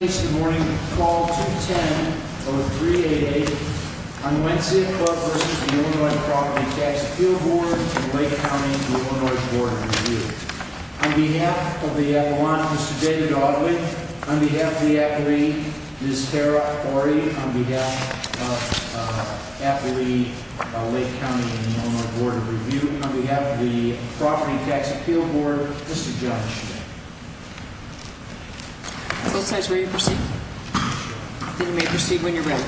and Lake County, Illinois Board of Review. On behalf of the appellant, Mr. David Audley, on behalf of the appellee, Ms. Farrah Horry, on behalf of the appellee, Lake County, Illinois Board of Review, on behalf of the Property Tax Appeal Board, Mr. John Schmidt. Both sides ready to proceed? Then you may proceed when you're ready.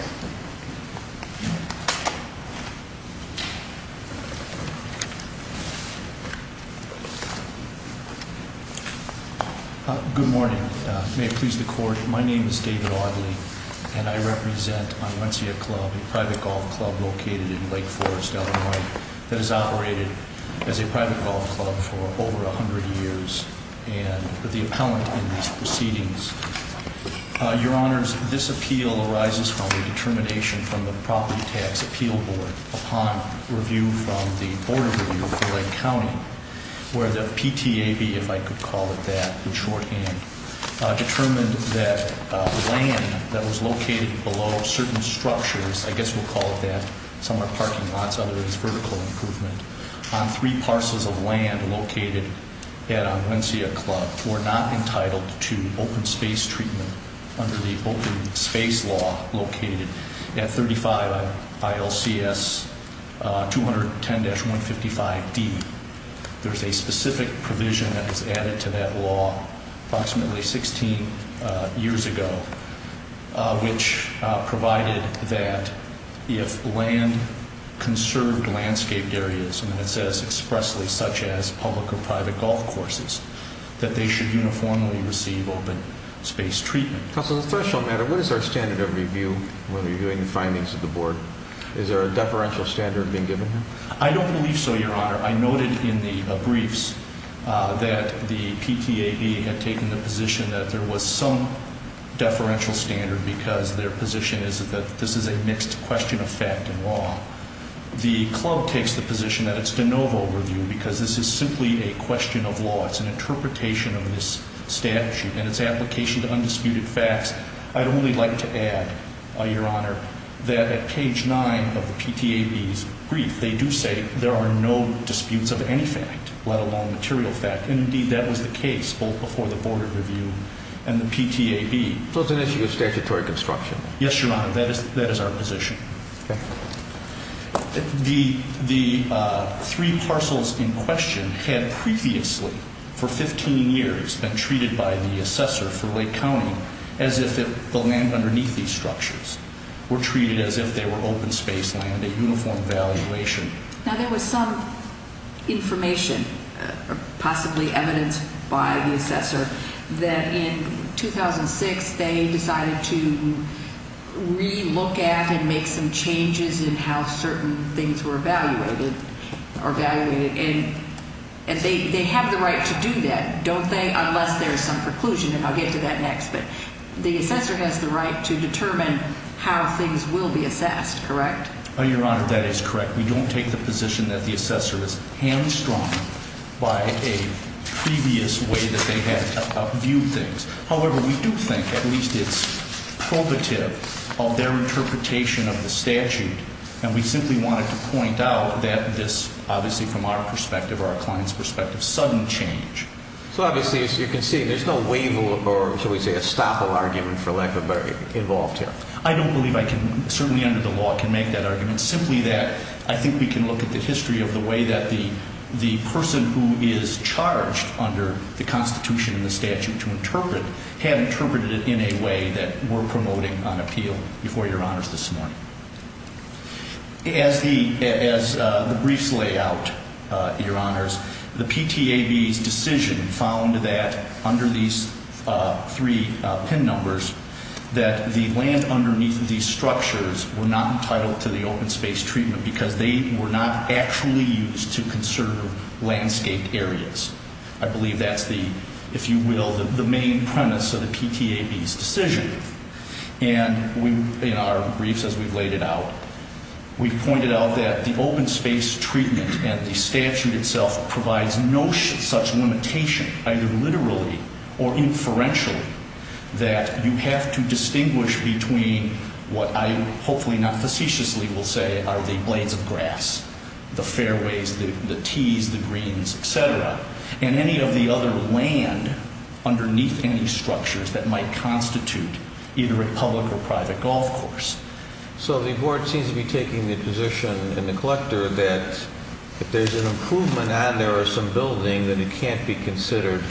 Good morning. May it please the Court, my name is David Audley and I represent Onwentsia Club, a private golf club located in Lake Forest, Illinois that has operated as a private golf club for over a hundred years and the appellant in these proceedings. Your Honors, this appeal arises from a determination from the Property Tax Appeal Board upon review from the Board of Review of Lake County where the PTAB, if I could call it that, in shorthand, determined that land that was located below certain structures, I guess we'll call it that, some are parking lots, others vertical improvement, on three parcels of land located at Onwentsia Club were not entitled to open space treatment under the open space law located at 35 ILCS 210-155D. There's a specific provision that was added to that law approximately 16 years ago which provided that if land, conserved landscaped areas, and it says expressly such as public or private golf courses, that they should uniformly receive open space treatment. Counsel, the threshold matter, what is our standard of review when reviewing the findings of the Board? Is there a deferential standard being given here? I don't believe so, Your Honor. I noted in the briefs that the PTAB had taken the position that there was some deferential standard because their position is that this is a mixed question of fact and law. The club takes the position that it's de novo review because this is simply a question of law. It's an interpretation of this statute and its application to undisputed facts. I'd only like to add, Your Honor, that at page 9 of the PTAB's brief, they do say there are no disputes of any fact, let alone material fact. Indeed, that was the case both before the Board of Review and the PTAB. So it's an issue of statutory construction? Yes, Your Honor, that is our position. The three parcels in question had previously, for 15 years, been treated by the assessor for Lake County as if the land underneath these structures were treated as if they were open space land, a uniform valuation. Now, there was some information, possibly evidence by the assessor, that in 2006 they decided to relook at and make some changes in how certain things were evaluated. And they have the right to do that, don't they? Unless there's some preclusion, and I'll get to that next. But the assessor has the right to determine how things will be assessed, correct? Your Honor, that is correct. We don't take the position that the assessor is hamstrung by a previous way that they had viewed things. However, we do think, at least, it's probative of their interpretation of the statute, and we simply wanted to point out that this, obviously, from our perspective, our client's perspective, sudden change. So, obviously, as you can see, there's no waiver or, shall we say, estoppel argument, for lack of a better word, involved here? I don't believe I can, certainly under the law, can make that argument. Simply that I think we can look at the history of the way that the person who is charged under the Constitution and the statute to interpret had interpreted it in a way that we're promoting on appeal before Your Honors this morning. As the briefs lay out, Your Honors, the PTAB's decision found that, under these three PIN numbers, that the land underneath these structures were not entitled to the open space treatment because they were not actually used to conserve landscaped areas. I believe that's the, if you will, the main premise of the PTAB's decision. And in our briefs, as we've laid it out, we've pointed out that the open space treatment and the statute itself provides no such limitation, either literally or inferentially, that you have to distinguish between what I, hopefully not facetiously, will say are the blades of grass, the fairways, the tees, the greens, etc. And any of the other land underneath any structures that might constitute either a public or private golf course. So the board seems to be taking the position in the collector that if there's an improvement on there or some building, then it can't be considered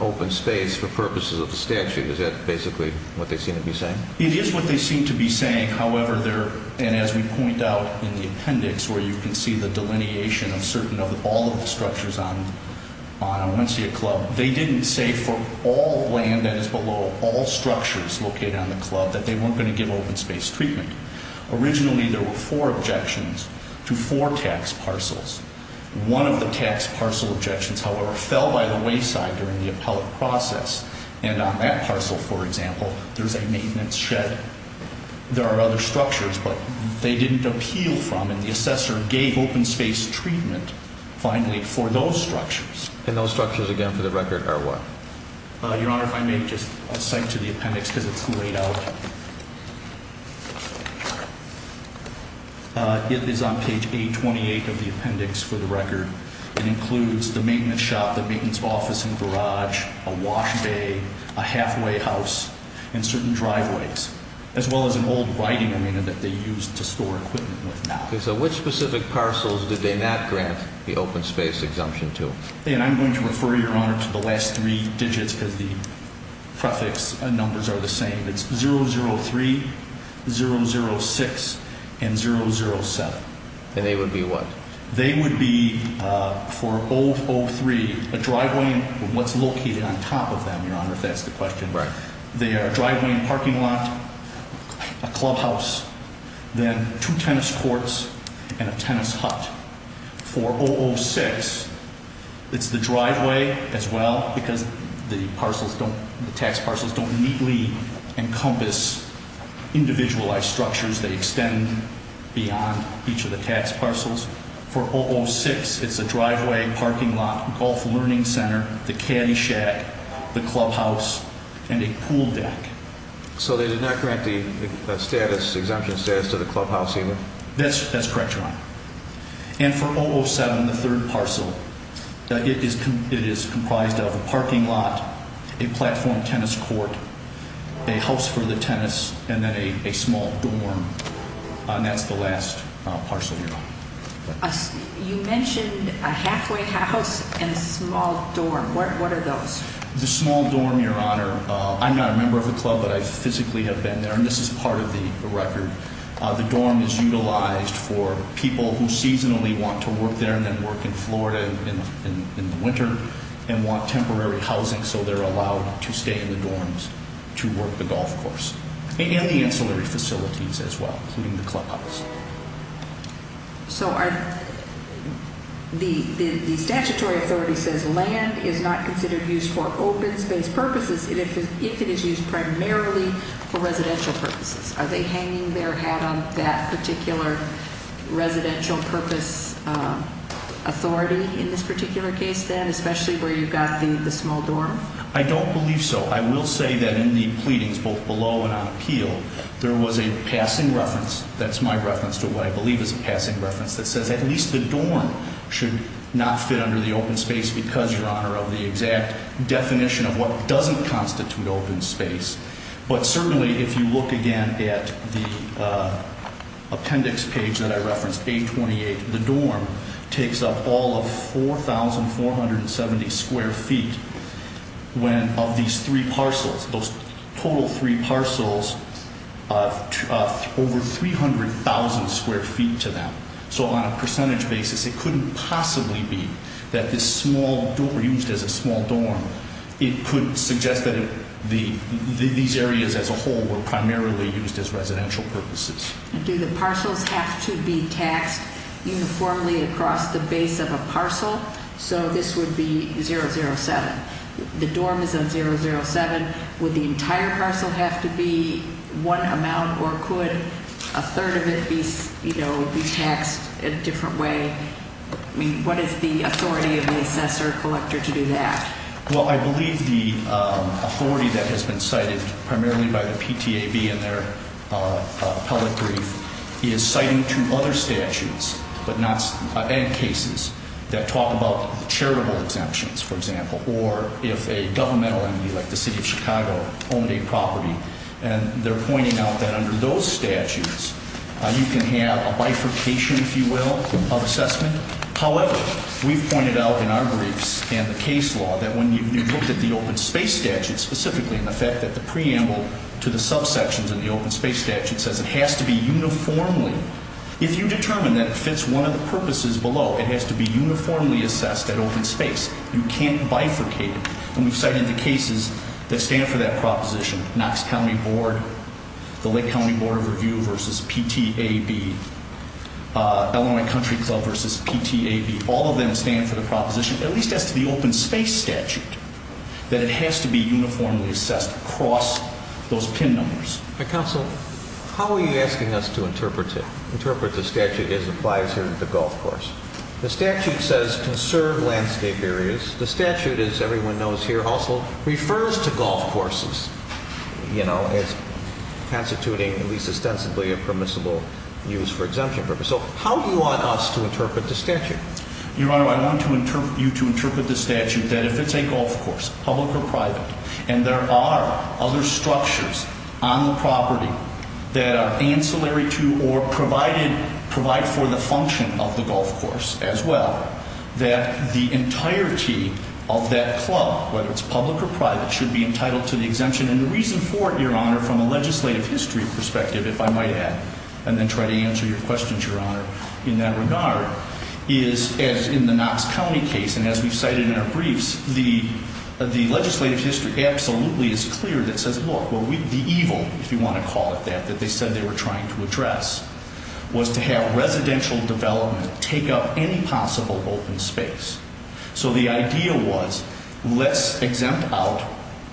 open space for purposes of the statute. Is that basically what they seem to be saying? It is what they seem to be saying. However, they're, and as we point out in the appendix where you can see the delineation of certain, of all of the structures on Onesia Club, they didn't say for all land that is below all structures located on the club that they weren't going to give open space treatment. Originally, there were four objections to four tax parcels. One of the tax parcel objections, however, fell by the wayside during the appellate process. And on that parcel, for example, there's a maintenance shed. There are other structures, but they didn't appeal from, and the assessor gave open space treatment, finally, for those structures. And those structures, again, for the record are what? Your Honor, if I may just cite to the appendix because it's laid out. It is on page 828 of the appendix for the record. It includes the maintenance shop, the maintenance office and garage, a wash bay, a halfway house, and certain driveways, as well as an old writing arena that they used to store equipment with now. Okay. So which specific parcels did they not grant the open space exemption to? And I'm going to refer, Your Honor, to the last three digits because the prefix numbers are the same. It's 003, 006, and 007. And they would be what? They would be, for 003, a driveway, what's located on top of them, Your Honor, if that's the question. Right. They are a driveway and parking lot, a clubhouse, then two tennis courts, and a tennis hut. For 006, it's the driveway as well because the parcels don't, the tax parcels don't neatly encompass individualized structures. They extend beyond each of the tax parcels. For 006, it's a driveway, parking lot, golf learning center, the caddy shack, the clubhouse, and a pool deck. So they did not grant the status, exemption status to the clubhouse either? That's correct, Your Honor. And for 007, the third parcel, it is comprised of a parking lot, a platform tennis court, a house for the tennis, and then a small dorm. And that's the last parcel, Your Honor. You mentioned a halfway house and a small dorm. What are those? The small dorm, Your Honor, I'm not a member of the club, but I physically have been there, and this is part of the record. The dorm is utilized for people who seasonally want to work there and then work in Florida in the winter and want temporary housing, so they're allowed to stay in the dorms to work the golf course and the ancillary facilities as well, including the clubhouse. So the statutory authority says land is not considered used for open space purposes if it is used primarily for residential purposes. Are they hanging their hat on that particular residential purpose authority in this particular case, then, especially where you've got the small dorm? I don't believe so. I will say that in the pleadings, both below and on appeal, there was a passing reference, that's my reference to what I believe is a passing reference, that says at least the dorm should not fit under the open space because, Your Honor, of the exact definition of what doesn't constitute open space. But certainly if you look again at the appendix page that I referenced, 828, the dorm takes up all of 4,470 square feet of these three parcels. Those total three parcels, over 300,000 square feet to them. So on a percentage basis, it couldn't possibly be that this small, used as a small dorm, it could suggest that these areas as a whole were primarily used as residential purposes. Do the parcels have to be taxed uniformly across the base of a parcel? So this would be 007. The dorm is on 007. Would the entire parcel have to be one amount or could a third of it be taxed a different way? I mean, what is the authority of the assessor-collector to do that? Well, I believe the authority that has been cited primarily by the PTAB in their appellate brief is citing two other statutes, and cases that talk about charitable exemptions, for example, or if a governmental entity like the City of Chicago owned a property, and they're pointing out that under those statutes you can have a bifurcation, if you will, of assessment. However, we've pointed out in our briefs and the case law that when you've looked at the open space statute, specifically in the fact that the preamble to the subsections of the open space statute says it has to be uniformly, if you determine that it fits one of the purposes below, it has to be uniformly assessed at open space. You can't bifurcate. And we've cited the cases that stand for that proposition. Knox County Board, the Lake County Board of Review versus PTAB, Illinois Country Club versus PTAB. All of them stand for the proposition, at least as to the open space statute, that it has to be uniformly assessed across those PIN numbers. Counsel, how are you asking us to interpret it, interpret the statute as it applies here to the golf course? The statute says conserve landscape areas. The statute, as everyone knows here, also refers to golf courses, you know, as constituting at least ostensibly a permissible use for exemption purposes. So how do you want us to interpret the statute? Your Honor, I want you to interpret the statute that if it's a golf course, public or private, and there are other structures on the property that are ancillary to or provide for the function of the golf course as well, that the entirety of that club, whether it's public or private, should be entitled to the exemption. And the reason for it, Your Honor, from a legislative history perspective, if I might add, and then try to answer your questions, Your Honor, in that regard, is as in the Knox County case, and as we've cited in our briefs, the legislative history absolutely is clear that says, look, the evil, if you want to call it that, that they said they were trying to address was to have residential development take up any possible open space. So the idea was let's exempt out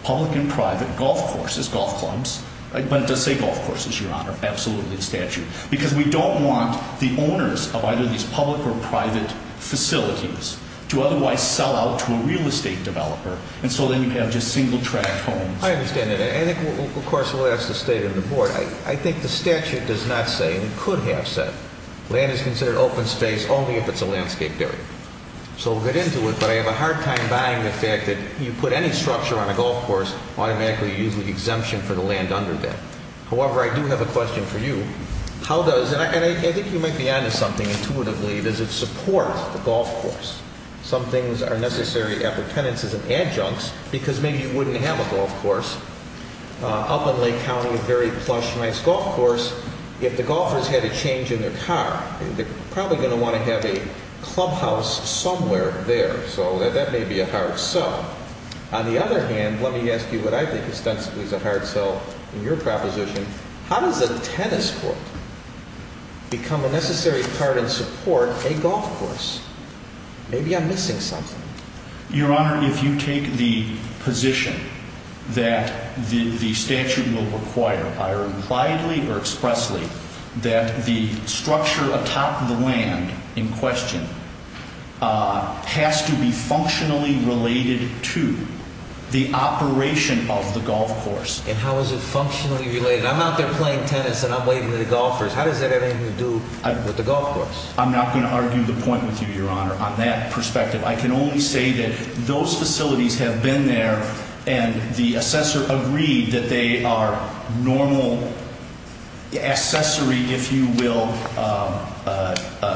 public and private golf courses, golf clubs. But it does say golf courses, Your Honor. Absolutely a statute. Because we don't want the owners of either these public or private facilities to otherwise sell out to a real estate developer, and so then you have just single-track homes. I understand that. And I think, of course, we'll ask the State and the Board. I think the statute does not say, and it could have said, land is considered open space only if it's a landscape area. So we'll get into it, but I have a hard time buying the fact that you put any structure on a golf course, automatically you use the exemption for the land under that. However, I do have a question for you. How does, and I think you might be on to something intuitively, does it support the golf course? Some things are necessary appurtenances and adjuncts because maybe you wouldn't have a golf course up in Lake County, a very plush, nice golf course, if the golfers had a change in their car. They're probably going to want to have a clubhouse somewhere there. So that may be a hard sell. On the other hand, let me ask you what I think ostensibly is a hard sell in your proposition. How does a tennis court become a necessary part and support a golf course? Maybe I'm missing something. Your Honor, if you take the position that the statute will require, either widely or expressly, that the structure atop the land in question has to be functionally related to the operation of the golf course. And how is it functionally related? I'm out there playing tennis and I'm waiting for the golfers. How does that have anything to do with the golf course? I'm not going to argue the point with you, Your Honor, on that perspective. I can only say that those facilities have been there and the assessor agreed that they are normal accessory, if you will,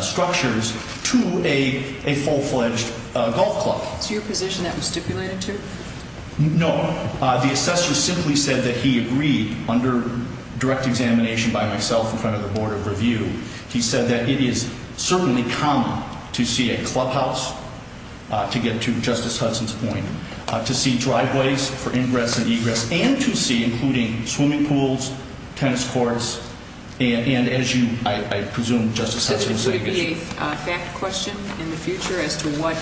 structures to a full-fledged golf club. Is your position that was stipulated too? No. The assessor simply said that he agreed under direct examination by myself in front of the Board of Review. He said that it is certainly common to see a clubhouse, to get to Justice Hudson's point, to see driveways for ingress and egress, and to see, including swimming pools, tennis courts, and as you, I presume, Justice Hudson was saying. Could it be a fact question in the future as to what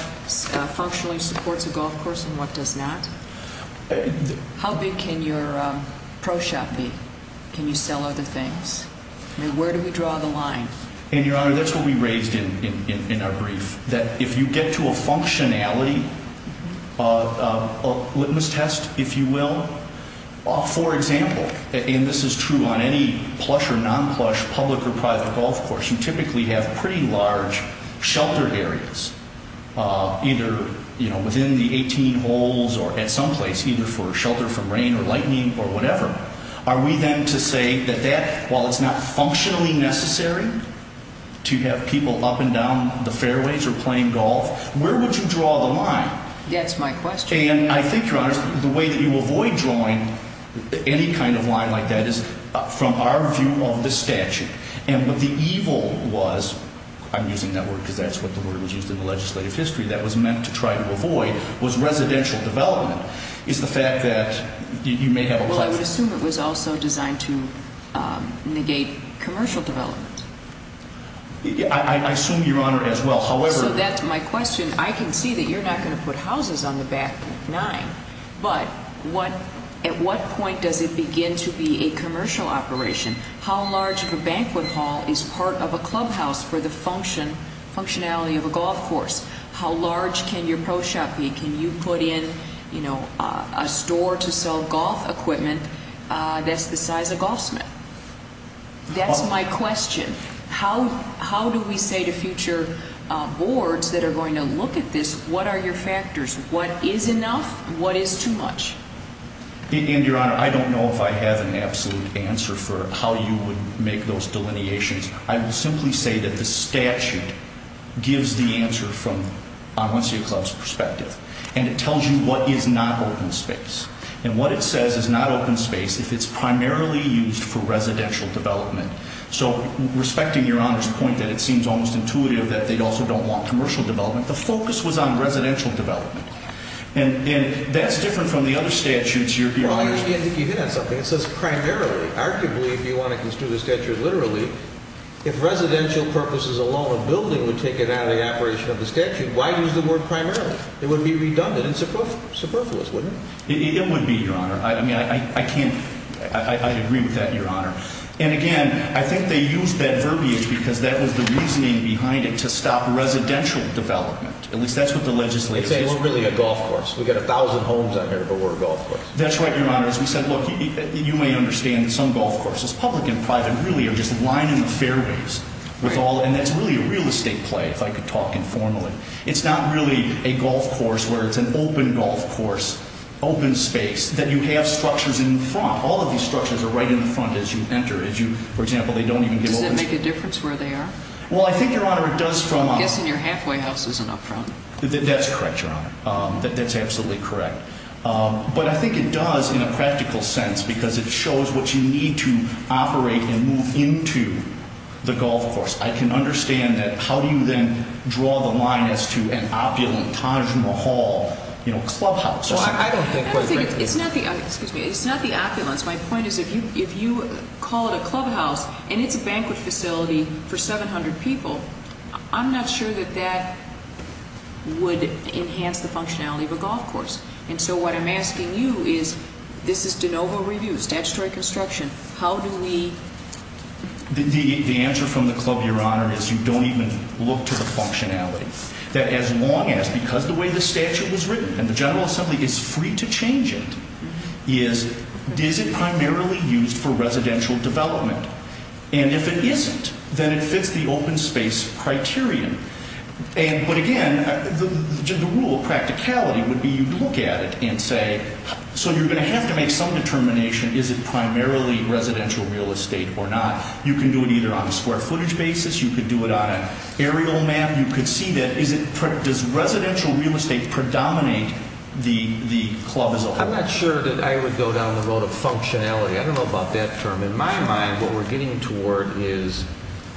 functionally supports a golf course and what does not? How big can your pro shop be? Can you sell other things? I mean, where do we draw the line? And, Your Honor, that's what we raised in our brief, that if you get to a functionality litmus test, if you will, for example, and this is true on any plush or non-plush public or private golf course, you typically have pretty large sheltered areas, either within the 18 holes or at some place, either for shelter from rain or lightning or whatever. Are we then to say that that, while it's not functionally necessary to have people up and down the fairways or playing golf, where would you draw the line? That's my question. And I think, Your Honor, the way that you avoid drawing any kind of line like that is from our view of the statute. And what the evil was, I'm using that word because that's what the word was used in the legislative history that was meant to try to avoid, was residential development, is the fact that you may have a clubhouse. I would assume it was also designed to negate commercial development. I assume, Your Honor, as well. So that's my question. I can see that you're not going to put houses on the back nine, but at what point does it begin to be a commercial operation? How large of a banquet hall is part of a clubhouse for the functionality of a golf course? How large can your pro shop be? Can you put in, you know, a store to sell golf equipment that's the size of golfsmen? That's my question. How do we say to future boards that are going to look at this, what are your factors? What is enough? What is too much? And, Your Honor, I don't know if I have an absolute answer for how you would make those delineations. I will simply say that the statute gives the answer from Omnissia Club's perspective. And it tells you what is not open space. And what it says is not open space if it's primarily used for residential development. So respecting Your Honor's point that it seems almost intuitive that they also don't want commercial development, the focus was on residential development. And that's different from the other statutes. It says primarily. Arguably, if you want to construe the statute literally, if residential purposes alone a building would take it out of the operation of the statute, why use the word primarily? It would be redundant and superfluous, wouldn't it? It would be, Your Honor. I mean, I can't, I agree with that, Your Honor. And, again, I think they used that verbiage because that was the reasoning behind it to stop residential development. At least that's what the legislature says. We're really a golf course. We've got a thousand homes out here, but we're a golf course. That's right, Your Honor. As we said, look, you may understand that some golf courses, public and private, really are just lining the fairways with all. And that's really a real estate play, if I could talk informally. It's not really a golf course where it's an open golf course, open space, that you have structures in the front. All of these structures are right in the front as you enter. As you, for example, they don't even give open space. Does that make a difference where they are? Well, I think, Your Honor, it does from... I'm guessing your halfway house isn't up front. That's correct, Your Honor. That's absolutely correct. But I think it does in a practical sense because it shows what you need to operate and move into the golf course. I can understand that. How do you then draw the line as to an opulent Taj Mahal, you know, clubhouse or something? Well, I don't think... I don't think... It's not the... Excuse me. It's not the opulence. My point is if you call it a clubhouse and it's a banquet facility for 700 people, I'm not sure that that would enhance the functionality of a golf course. And so what I'm asking you is this is de novo review, statutory construction. How do we... The answer from the club, Your Honor, is you don't even look to the functionality. That as long as, because the way the statute was written and the General Assembly is free to change it, is it primarily used for residential development? And if it isn't, then it fits the open space criterion. But again, the rule of practicality would be you look at it and say, so you're going to have to make some determination, is it primarily residential real estate or not? You can do it either on a square footage basis. You could do it on an aerial map. You could see that. Does residential real estate predominate the club as a whole? I'm not sure that I would go down the road of functionality. I don't know about that term. In my mind, what we're getting toward is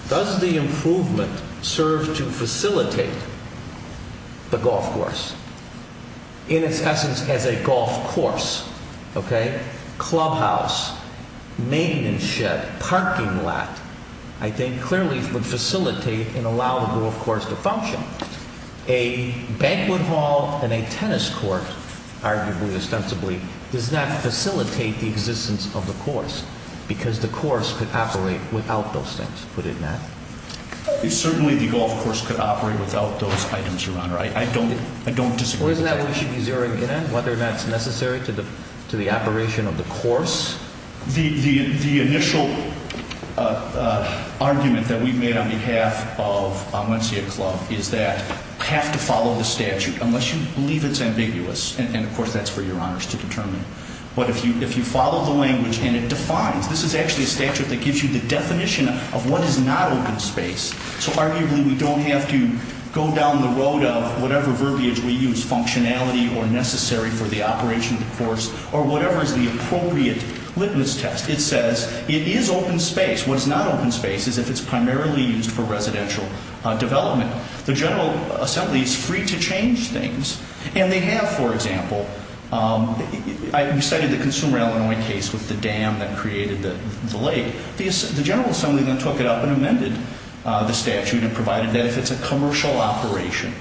does the improvement serve to facilitate the golf course in its essence as a golf course? Clubhouse, maintenance shed, parking lot, I think clearly would facilitate and allow the golf course to function. A banquet hall and a tennis court, arguably, ostensibly, does not facilitate the existence of the course because the course could operate without those things, put it in that. Certainly the golf course could operate without those items, Your Honor. I don't disagree with that. Well, isn't that what you should be zeroing in on, whether or not it's necessary to the operation of the course? The initial argument that we've made on behalf of Wencia Club is that you have to follow the statute unless you believe it's ambiguous. And, of course, that's for Your Honors to determine. But if you follow the language and it defines, this is actually a statute that gives you the definition of what is not open space. So, arguably, we don't have to go down the road of whatever verbiage we use, functionality or necessary for the operation of the course, or whatever is the appropriate litmus test. It says it is open space. What is not open space is if it's primarily used for residential development. The General Assembly is free to change things. And they have, for example, we cited the Consumer, Illinois case with the dam that created the lake. The General Assembly then took it up and amended the statute and provided that if it's a commercial operation,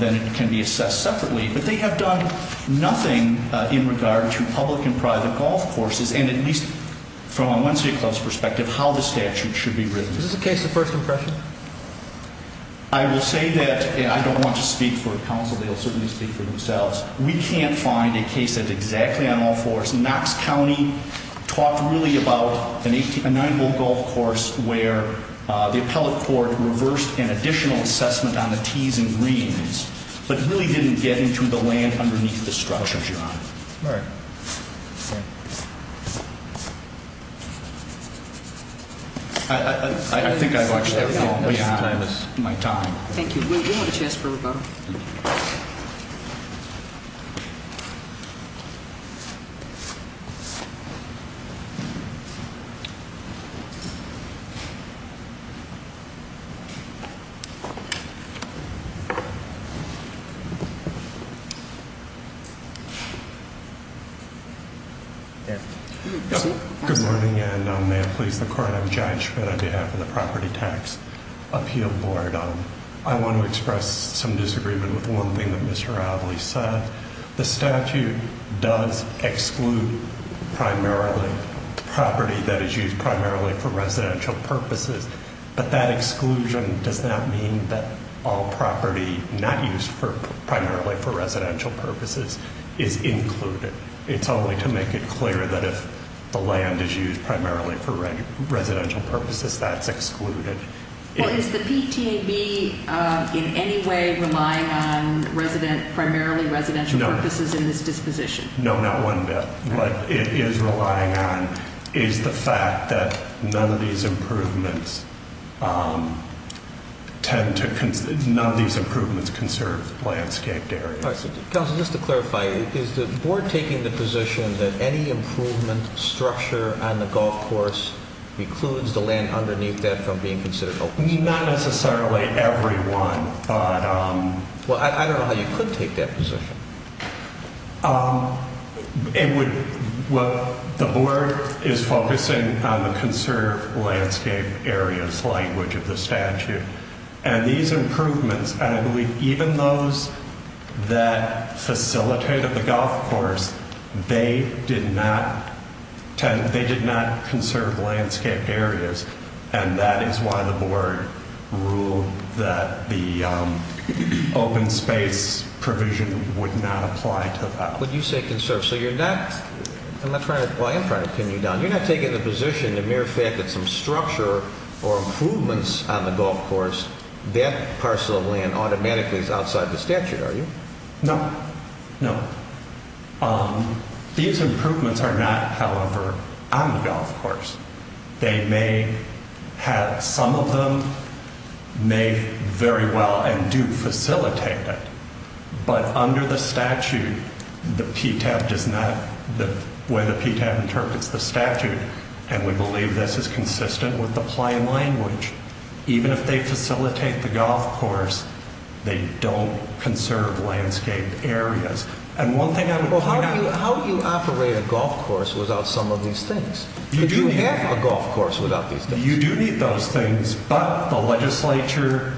then it can be assessed separately. But they have done nothing in regard to public and private golf courses, and at least from a Wencia Club's perspective, how the statute should be written. Is this a case of first impression? I will say that I don't want to speak for counsel. They'll certainly speak for themselves. We can't find a case that's exactly on all fours. Knox County talked really about a nine-hole golf course where the appellate court reversed an additional assessment on the tees and greens, but really didn't get into the land underneath the structure, Your Honor. All right. I think I've watched everything all the way on in my time. Thank you. We have a chance for rebuttal. Good morning, and may it please the Court, I'm John Schmidt on behalf of the Property Tax Appeal Board. I want to express some disagreement with one thing that Mr. Avley said. The statute does exclude primarily property that is used primarily for residential purposes, but that exclusion does not mean that all property not used primarily for residential purposes is included. It's only to make it clear that if the land is used primarily for residential purposes, that's excluded. Is the PTAB in any way relying on primarily residential purposes in this disposition? No, not one bit. What it is relying on is the fact that none of these improvements conserve landscaped areas. Counsel, just to clarify, is the Board taking the position that any improvement structure on the golf course excludes the land underneath that from being considered open? Not necessarily every one, but... Well, I don't know how you could take that position. The Board is focusing on the conserve landscape areas language of the statute. And these improvements, and I believe even those that facilitated the golf course, they did not conserve landscape areas. And that is why the Board ruled that the open space provision would not apply to that. But you say conserve, so you're not... I'm not trying to... Well, I am trying to pin you down. You're not taking the position, the mere fact that some structure or improvements on the golf course, that parcel of land automatically is outside the statute, are you? No. No. These improvements are not, however, on the golf course. They may have, some of them may very well and do facilitate it, but under the statute, the PTAB does not, the way the PTAB interprets the statute, and we believe this is consistent with applying language. Even if they facilitate the golf course, they don't conserve landscaped areas. And one thing I would point out... Well, how do you operate a golf course without some of these things? You do have a golf course without these things. You do need those things, but the legislature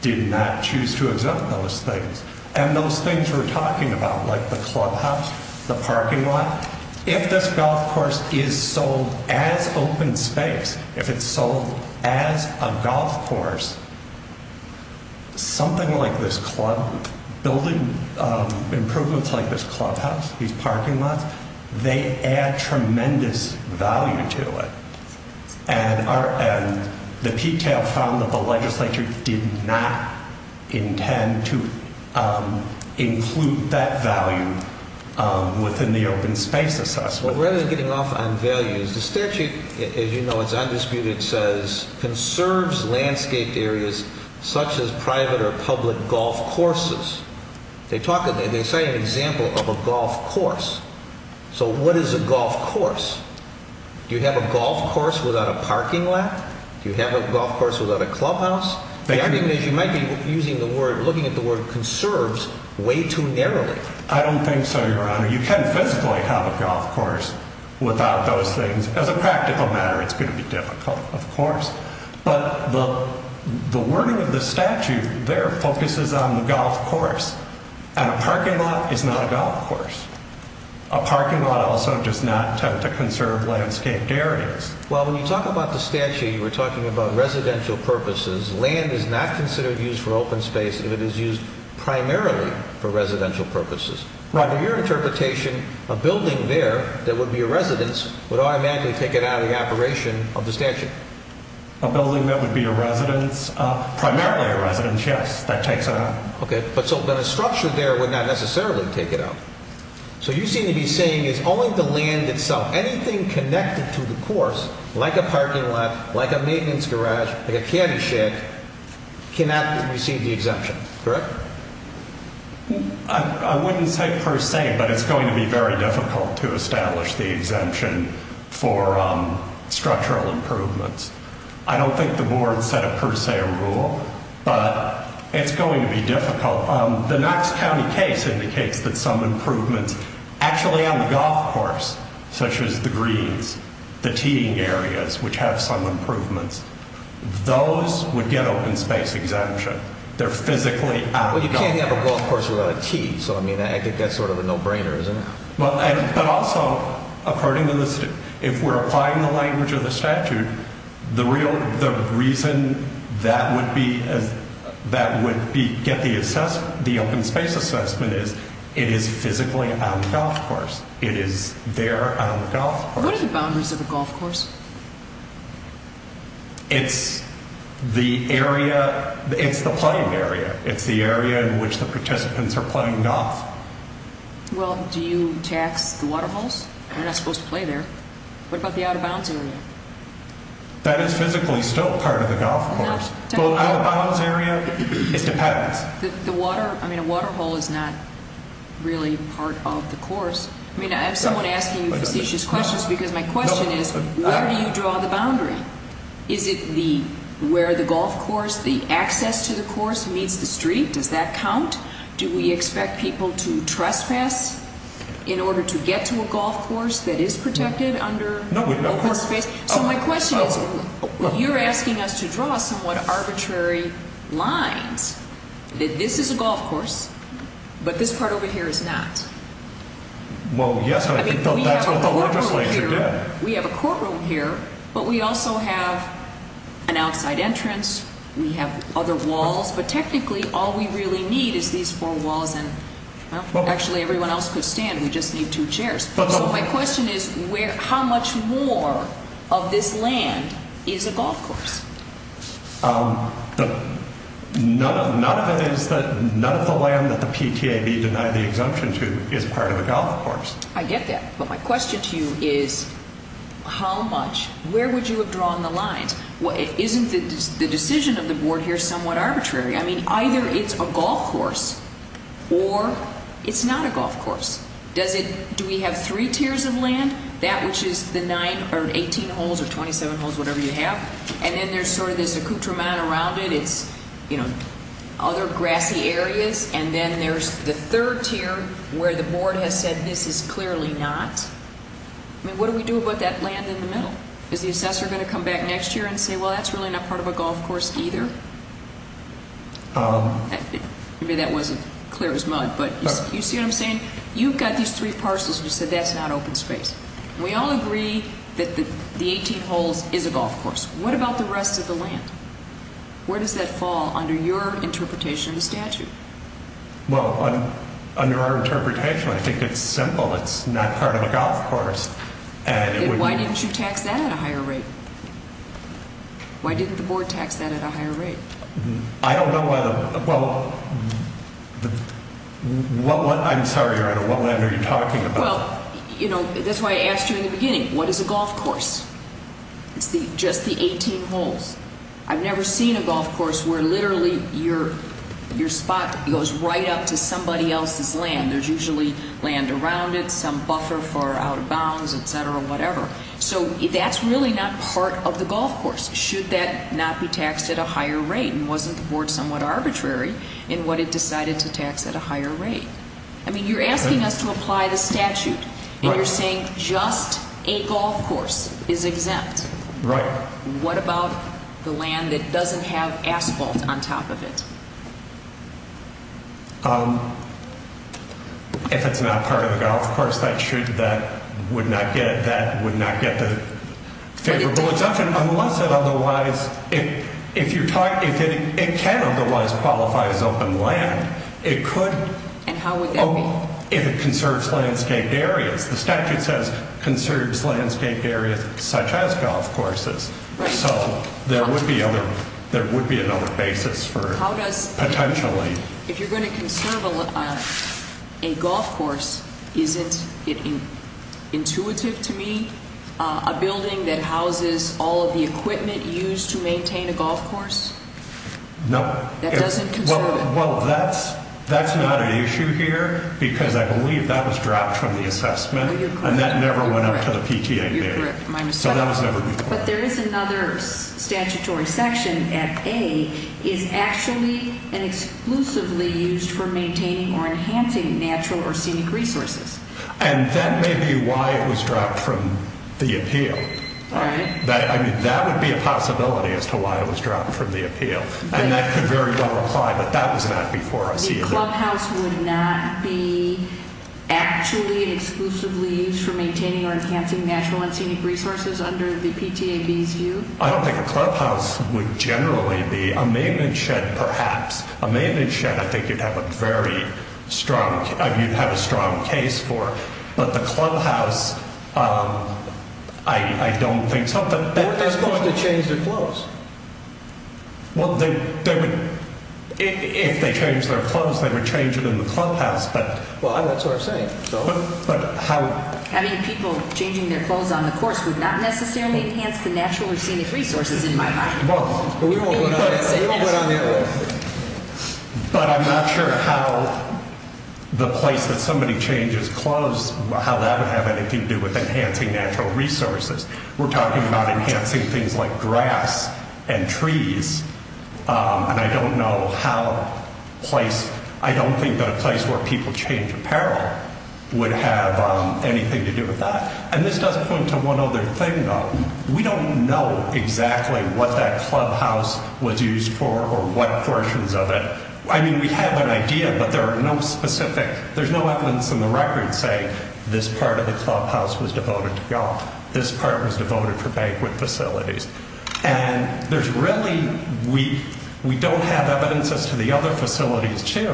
did not choose to exempt those things. And those things we're talking about, like the clubhouse, the parking lot, if this golf course is sold as open space, if it's sold as a golf course, something like this club, building improvements like this clubhouse, these parking lots, they add tremendous value to it. And the PTAB found that the legislature did not intend to include that value within the open space assessment. Well, rather than getting off on values, the statute, as you know, it's undisputed, says, conserves landscaped areas such as private or public golf courses. They say an example of a golf course. So what is a golf course? Do you have a golf course without a parking lot? Do you have a golf course without a clubhouse? The argument is you might be looking at the word conserves way too narrowly. I don't think so, Your Honor. You can't physically have a golf course without those things. As a practical matter, it's going to be difficult, of course. But the wording of the statute there focuses on the golf course. And a parking lot is not a golf course. A parking lot also does not tend to conserve landscaped areas. Well, when you talk about the statute, you were talking about residential purposes. Land is not considered used for open space if it is used primarily for residential purposes. Under your interpretation, a building there that would be a residence would automatically take it out of the operation of the statute. A building that would be a residence? Primarily a residence, yes. That takes it out. Okay. But a structure there would not necessarily take it out. So you seem to be saying it's only the land itself. Anything connected to the course, like a parking lot, like a maintenance garage, like a candy shack, cannot receive the exemption, correct? I wouldn't say per se, but it's going to be very difficult to establish the exemption for structural improvements. I don't think the board set it per se a rule, but it's going to be difficult. The Knox County case indicates that some improvements actually on the golf course, such as the greens, the teeing areas, which have some improvements, those would get open space exemption. They're physically out of the golf course. Well, you can't have a golf course without a tee, so I think that's sort of a no-brainer, isn't it? But also, according to the statute, if we're applying the language of the statute, the reason that would get the open space assessment is it is physically out of the golf course. It is there out of the golf course. What are the boundaries of a golf course? It's the area, it's the playing area. It's the area in which the participants are playing golf. Well, do you tax the water holes? They're not supposed to play there. What about the out-of-bounds area? That is physically still part of the golf course. The out-of-bounds area, it depends. The water, I mean, a water hole is not really part of the course. I mean, I have someone asking you facetious questions because my question is, where do you draw the boundary? Is it where the golf course, the access to the course meets the street? Does that count? Do we expect people to trespass in order to get to a golf course that is protected under open space? So my question is, you're asking us to draw somewhat arbitrary lines that this is a golf course, but this part over here is not. Well, yes, but I think that's what the legislature did. We have a courtroom here, but we also have an outside entrance. We have other walls, but technically all we really need is these four walls, and actually everyone else could stand. We just need two chairs. So my question is, how much more of this land is a golf course? None of the land that the PTAB denied the exemption to is part of a golf course. I get that, but my question to you is, how much, where would you have drawn the lines? Isn't the decision of the board here somewhat arbitrary? I mean, either it's a golf course or it's not a golf course. Do we have three tiers of land, that which is the nine or 18 holes or 27 holes, whatever you have, and then there's sort of this accoutrement around it. It's, you know, other grassy areas, and then there's the third tier where the board has said this is clearly not. I mean, what do we do about that land in the middle? Is the assessor going to come back next year and say, well, that's really not part of a golf course either? Maybe that wasn't clear as mud, but you see what I'm saying? You've got these three parcels, and you said that's not open space. We all agree that the 18 holes is a golf course. What about the rest of the land? Where does that fall under your interpretation of the statute? Well, under our interpretation, I think it's simple. It's not part of a golf course. Then why didn't you tax that at a higher rate? Why didn't the board tax that at a higher rate? I don't know whether, well, what, I'm sorry, Your Honor, what land are you talking about? Well, you know, that's why I asked you in the beginning, what is a golf course? It's just the 18 holes. I've never seen a golf course where literally your spot goes right up to somebody else's land. There's usually land around it, some buffer for out of bounds, et cetera, whatever. So that's really not part of the golf course, should that not be taxed at a higher rate, and wasn't the board somewhat arbitrary in what it decided to tax at a higher rate? I mean, you're asking us to apply the statute, and you're saying just a golf course is exempt. Right. What about the land that doesn't have asphalt on top of it? If it's not part of the golf course, that would not get the favorable exemption, unless it otherwise, if it can otherwise qualify as open land, it could. And how would that be? Oh, if it conserves landscape areas. The statute says conserves landscape areas such as golf courses. Right. So there would be other, there would be another basis for it. How does? Potentially. If you're going to conserve a golf course, isn't it intuitive to me, a building that houses all of the equipment used to maintain a golf course? No. That doesn't conserve it. Well, that's not an issue here, because I believe that was dropped from the assessment, and that never went up to the PTA data. You're correct. So that was never included. But there is another statutory section at A, is actually and exclusively used for maintaining or enhancing natural or scenic resources. And that may be why it was dropped from the appeal. All right. And that could very well apply, but that was not before us either. The clubhouse would not be actually and exclusively used for maintaining or enhancing natural and scenic resources under the PTAB's view? I don't think a clubhouse would generally be. A maintenance shed, perhaps. A maintenance shed I think you'd have a very strong, you'd have a strong case for. But the clubhouse, I don't think. They're supposed to change their clothes. Well, they would. If they changed their clothes, they would change it in the clubhouse. Well, that's what I'm saying. Having people changing their clothes on the course would not necessarily enhance the natural or scenic resources in my mind. We won't go down that road. But I'm not sure how the place that somebody changes clothes, how that would have anything to do with enhancing natural resources. We're talking about enhancing things like grass and trees. And I don't know how a place, I don't think that a place where people change apparel would have anything to do with that. And this does point to one other thing, though. We don't know exactly what that clubhouse was used for or what portions of it. I mean, we have an idea, but there are no specific, there's no evidence in the record saying this part of the clubhouse was devoted to golf. This part was devoted for banquet facilities. And there's really, we don't have evidence as to the other facilities, too.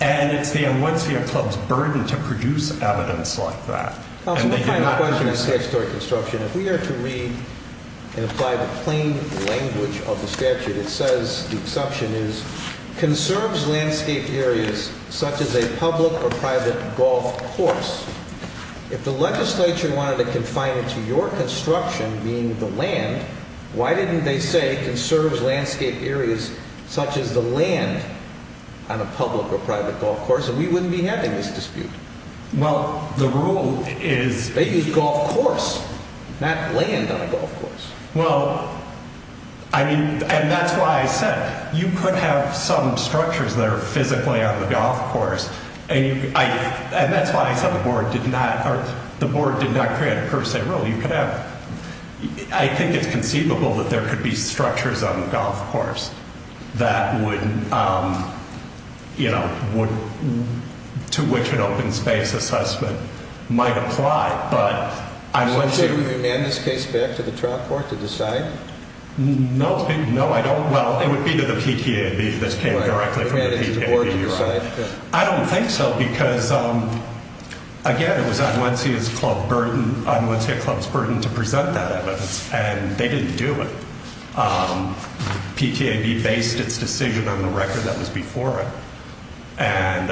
And it's the YMCA club's burden to produce evidence like that. Counselor, one final question on statutory construction. If we are to read and apply the plain language of the statute, it says, the exception is, conserves landscape areas such as a public or private golf course. If the legislature wanted to confine it to your construction being the land, why didn't they say conserves landscape areas such as the land on a public or private golf course? And we wouldn't be having this dispute. Well, the rule is. They use golf course, not land on a golf course. Well, I mean, and that's why I said you could have some structures that are physically on the golf course. And that's why I said the board did not, the board did not create a per se rule. You could have, I think it's conceivable that there could be structures on the golf course that would, you know, to which an open space assessment might apply. So would you hand this case back to the trial court to decide? No. No, I don't. Well, it would be to the PTAB. This came directly from the PTAB. I don't think so because, again, it was YMCA's club burden, YMCA club's burden to present that evidence, and they didn't do it. PTAB based its decision on the record that was before it. And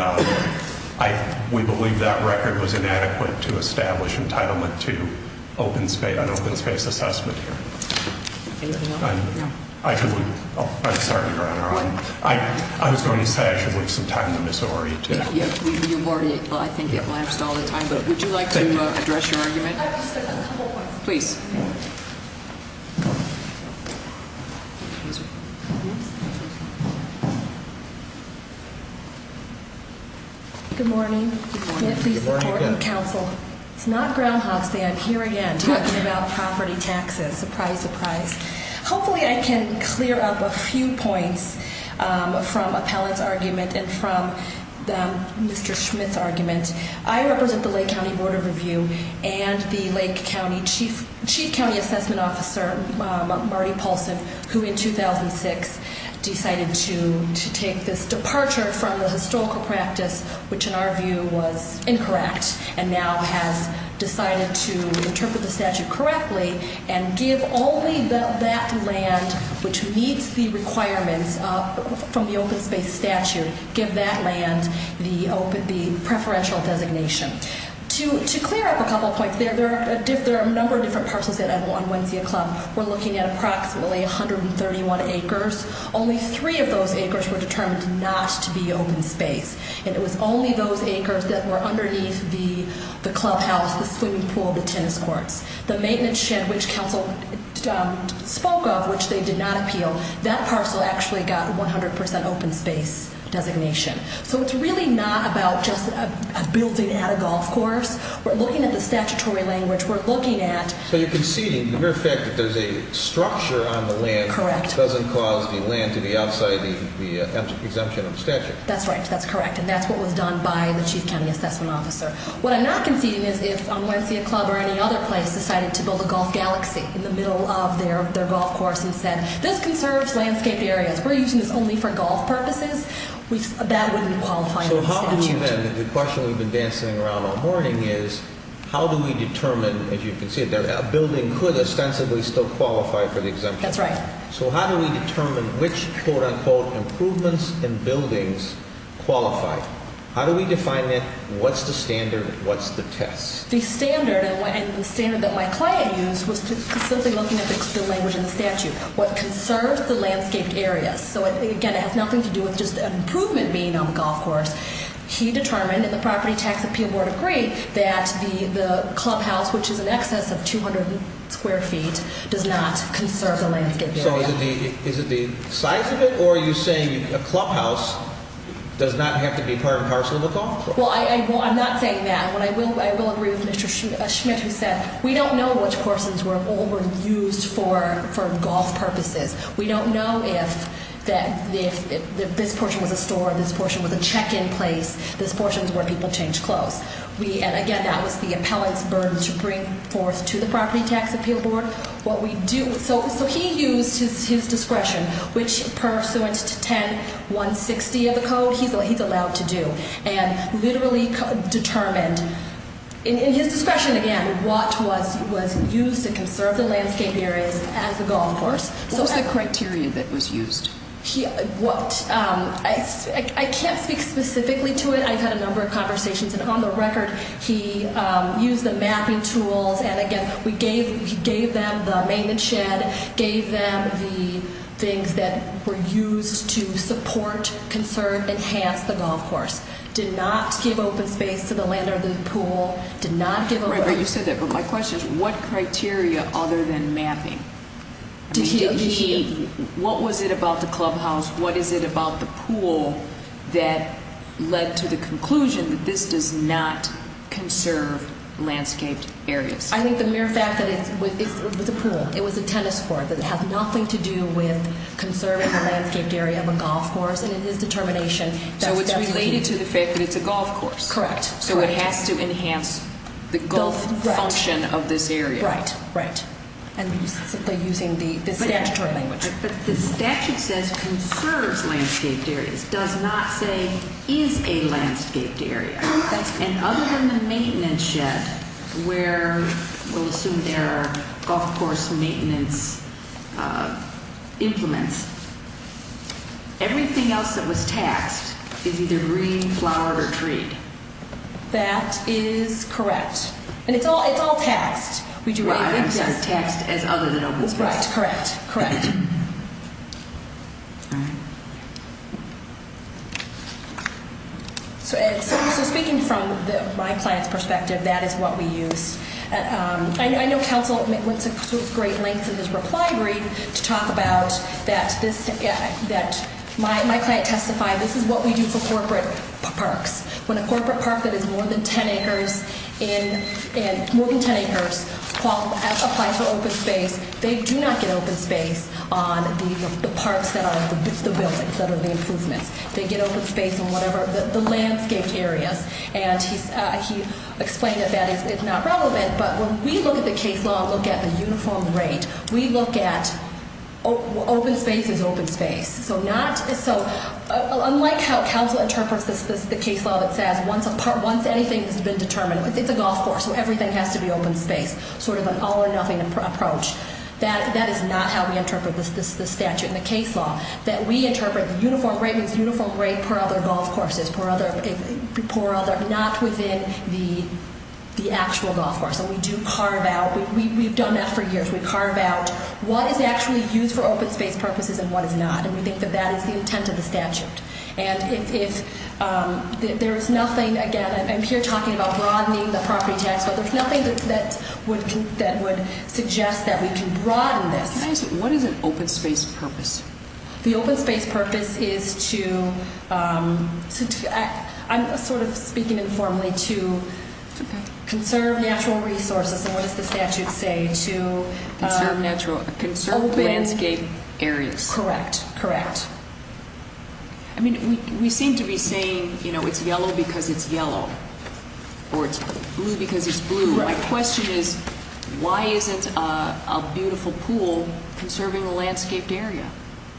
we believe that record was inadequate to establish entitlement to an open space assessment here. Anything else? No. I should leave. I'm sorry, Your Honor. I was going to say I should leave some time to Ms. Ory, too. You've already, well, I think it lapsed all the time, but would you like to address your argument? I just have a couple points. Please. Good morning. Good morning. Good morning again. It's not Groundhog Day. I'm here again talking about property taxes. Surprise, surprise. Hopefully I can clear up a few points from Appellant's argument and from Mr. Schmitt's argument. I represent the Lake County Board of Review and the Lake County Chief County Assessment Officer, Marty Paulson, who in 2006 decided to take this departure from the historical practice, which in our view was incorrect, and now has decided to interpret the statute correctly and give only that land which meets the requirements from the open space statute, give that land the preferential designation. To clear up a couple points, there are a number of different parcels on Wensea Club. We're looking at approximately 131 acres. Only three of those acres were determined not to be open space, and it was only those acres that were underneath the clubhouse, the swimming pool, the tennis courts. The maintenance shed which counsel spoke of, which they did not appeal, that parcel actually got 100% open space designation. So it's really not about just a building and a golf course. We're looking at the statutory language. We're looking at... So you're conceding the mere fact that there's a structure on the land... Correct. ...doesn't cause the land to be outside the exemption of the statute. That's right. That's correct. And that's what was done by the Chief County Assessment Officer. What I'm not conceding is if Wensea Club or any other place decided to build a golf galaxy in the middle of their golf course and said, this conserves landscape areas, we're using this only for golf purposes, that wouldn't qualify under the statute. So how do we then, the question we've been dancing around all morning is, how do we determine, as you conceded, that a building could ostensibly still qualify for the exemption? That's right. So how do we determine which, quote, unquote, improvements in buildings qualify? How do we define that? What's the standard? What's the test? The standard, and the standard that my client used was simply looking at the language in the statute. What conserves the landscaped area. So, again, it has nothing to do with just an improvement being on the golf course. He determined, and the Property Tax Appeal Board agreed, that the clubhouse, which is in excess of 200 square feet, does not conserve the landscaped area. So is it the size of it, or are you saying a clubhouse does not have to be part and parcel of a golf course? Well, I'm not saying that. I will agree with Mr. Schmidt, who said, we don't know which portions were overused for golf purposes. We don't know if this portion was a store, this portion was a check-in place, this portion is where people change clothes. And, again, that was the appellant's burden to bring forth to the Property Tax Appeal Board. So he used his discretion, which pursuant to 10-160 of the code, he's allowed to do, and literally determined in his discretion, again, what was used to conserve the landscaped areas as a golf course. What was the criteria that was used? I can't speak specifically to it. I've had a number of conversations, and on the record, he used the mapping tools, and, again, he gave them the maintenance shed, gave them the things that were used to support, conserve, enhance the golf course. Did not give open space to the land or the pool. Did not give open space. Right, but you said that, but my question is, what criteria other than mapping? What was it about the clubhouse? What is it about the pool that led to the conclusion that this does not conserve landscaped areas? I think the mere fact that it was a pool. It was a tennis court. It has nothing to do with conserving the landscaped area of a golf course, and it is determination. So it's related to the fact that it's a golf course. Correct. So it has to enhance the golf function of this area. Right, right. And simply using the statutory language. But the statute says conserves landscaped areas, does not say is a landscaped area. And other than the maintenance shed, where we'll assume there are golf course maintenance implements, everything else that was taxed is either green, flowered, or treed. That is correct. And it's all taxed. Right, I'm sorry, taxed as other than open space. Right, correct, correct. So speaking from my client's perspective, that is what we use. I know counsel went to great lengths in his reply brief to talk about that my client testified, this is what we do for corporate parks. When a corporate park that is more than 10 acres applies for open space, they do not get open space on the parks that are the buildings that are the improvements. They get open space on whatever the landscaped areas. And he explained that that is not relevant. But when we look at the case law and look at the uniform rate, we look at open space as open space. So unlike how counsel interprets the case law that says once anything has been determined, it's a golf course, so everything has to be open space, sort of an all or nothing approach. That is not how we interpret this statute in the case law, that we interpret the uniform rate as uniform rate per other golf courses, not within the actual golf course. And we do carve out, we've done that for years, we carve out what is actually used for open space purposes and what is not. And we think that that is the intent of the statute. And if there is nothing, again, I'm here talking about broadening the property tax, but there's nothing that would suggest that we can broaden this. Can I ask you, what is an open space purpose? The open space purpose is to, I'm sort of speaking informally, to conserve natural resources, and what does the statute say, to conserve landscape areas. Correct, correct. I mean, we seem to be saying, you know, it's yellow because it's yellow, or it's blue because it's blue. My question is, why isn't a beautiful pool conserving a landscaped area?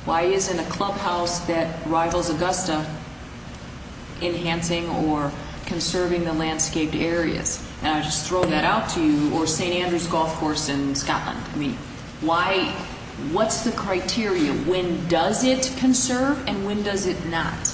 Why isn't a clubhouse that rivals Augusta enhancing or conserving the landscaped areas? And I'll just throw that out to you, or St. Andrew's Golf Course in Scotland. I mean, why, what's the criteria? When does it conserve and when does it not?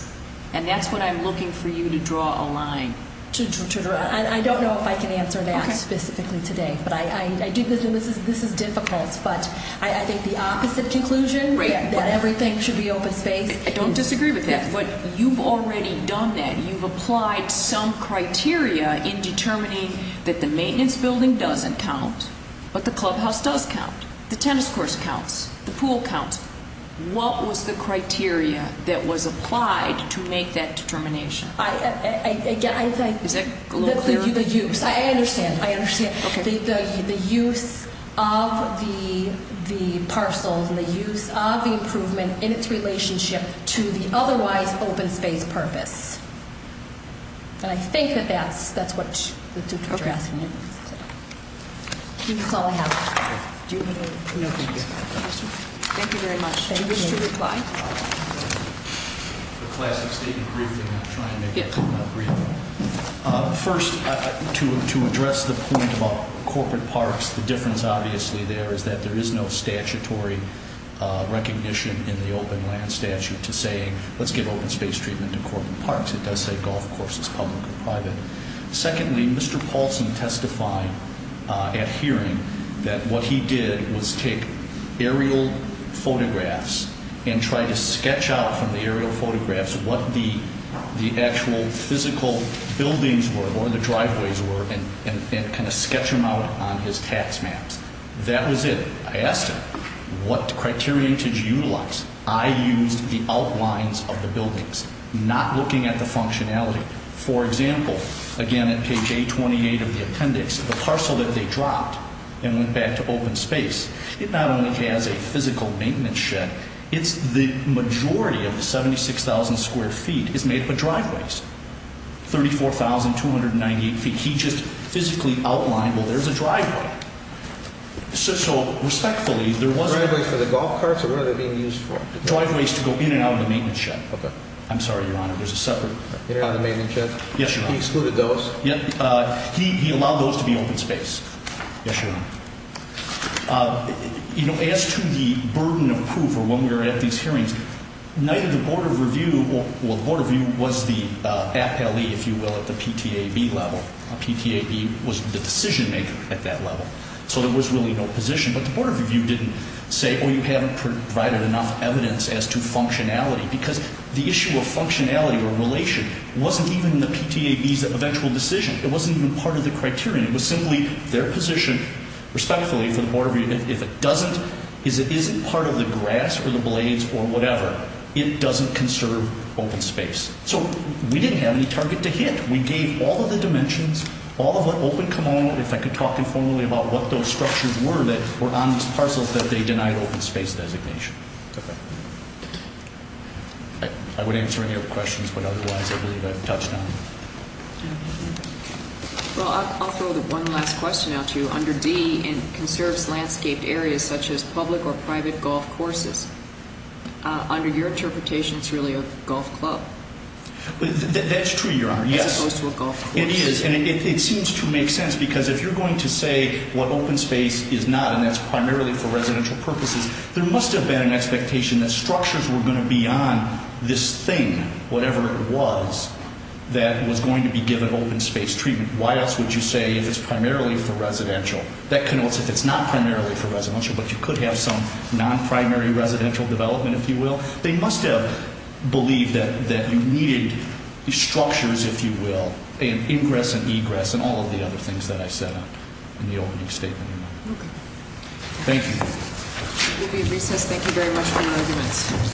And that's what I'm looking for you to draw a line. I don't know if I can answer that specifically today. But I do think this is difficult. But I think the opposite conclusion, that everything should be open space. I don't disagree with that. But you've already done that. You've applied some criteria in determining that the maintenance building doesn't count, but the clubhouse does count, the tennis course counts, the pool counts. What was the criteria that was applied to make that determination? Is that a little clearer? The use, I understand, I understand. Okay. The use of the parcels and the use of the improvement in its relationship to the otherwise open space purpose. And I think that that's what the two of you are asking. Okay. That's all I have. Do you have any other questions? Thank you very much. Thank you. Any wish to reply? A classic statement briefing. I'm trying to make it real. First, to address the point about corporate parks, the difference obviously there is that there is no statutory recognition in the open land statute to say let's give open space treatment to corporate parks. It does say golf courses, public or private. Secondly, Mr. Paulson testified at hearing that what he did was take aerial photographs and try to sketch out from the aerial photographs what the actual physical buildings were or the driveways were and kind of sketch them out on his tax maps. That was it. I asked him, what criteria did you utilize? I used the outlines of the buildings, not looking at the functionality. For example, again at page 828 of the appendix, the parcel that they dropped and went back to open space, it not only has a physical maintenance shed, it's the majority of the 76,000 square feet is made up of driveways, 34,298 feet. He just physically outlined, well, there's a driveway. So respectfully, there was a – Driveways for the golf carts or what are they being used for? Driveways to go in and out of the maintenance shed. Okay. I'm sorry, Your Honor, there's a separate – In and out of the maintenance shed? Yes, Your Honor. He excluded those? He allowed those to be open space. Yes, Your Honor. You know, as to the burden of proof or when we were at these hearings, neither the Board of Review – well, the Board of Review was the appellee, if you will, at the PTAB level. PTAB was the decision maker at that level. So there was really no position. But the Board of Review didn't say, oh, you haven't provided enough evidence as to functionality, because the issue of functionality or relation wasn't even in the PTAB's eventual decision. It wasn't even part of the criterion. It was simply their position, respectfully, for the Board of Review, if it doesn't – is it isn't part of the grass or the blades or whatever. It doesn't conserve open space. So we didn't have any target to hit. We gave all of the dimensions, all of what open – if I could talk informally about what those structures were that were on these parcels that they denied open space designation. Okay. I would answer any of your questions, but otherwise I believe I've touched on them. Well, I'll throw one last question out to you. Under D, it conserves landscaped areas such as public or private golf courses. Under your interpretation, it's really a golf club. That's true, Your Honor, yes. As opposed to a golf course. It is, and it seems to make sense, because if you're going to say what open space is not, and that's primarily for residential purposes, there must have been an expectation that structures were going to be on this thing, whatever it was, that was going to be given open space treatment. Why else would you say if it's primarily for residential? That connotes if it's not primarily for residential, but you could have some non-primary residential development, if you will. They must have believed that you needed structures, if you will, and ingress and egress and all of the other things that I said in the opening statement. Okay. Thank you. We'll be at recess. Thank you very much for your arguments.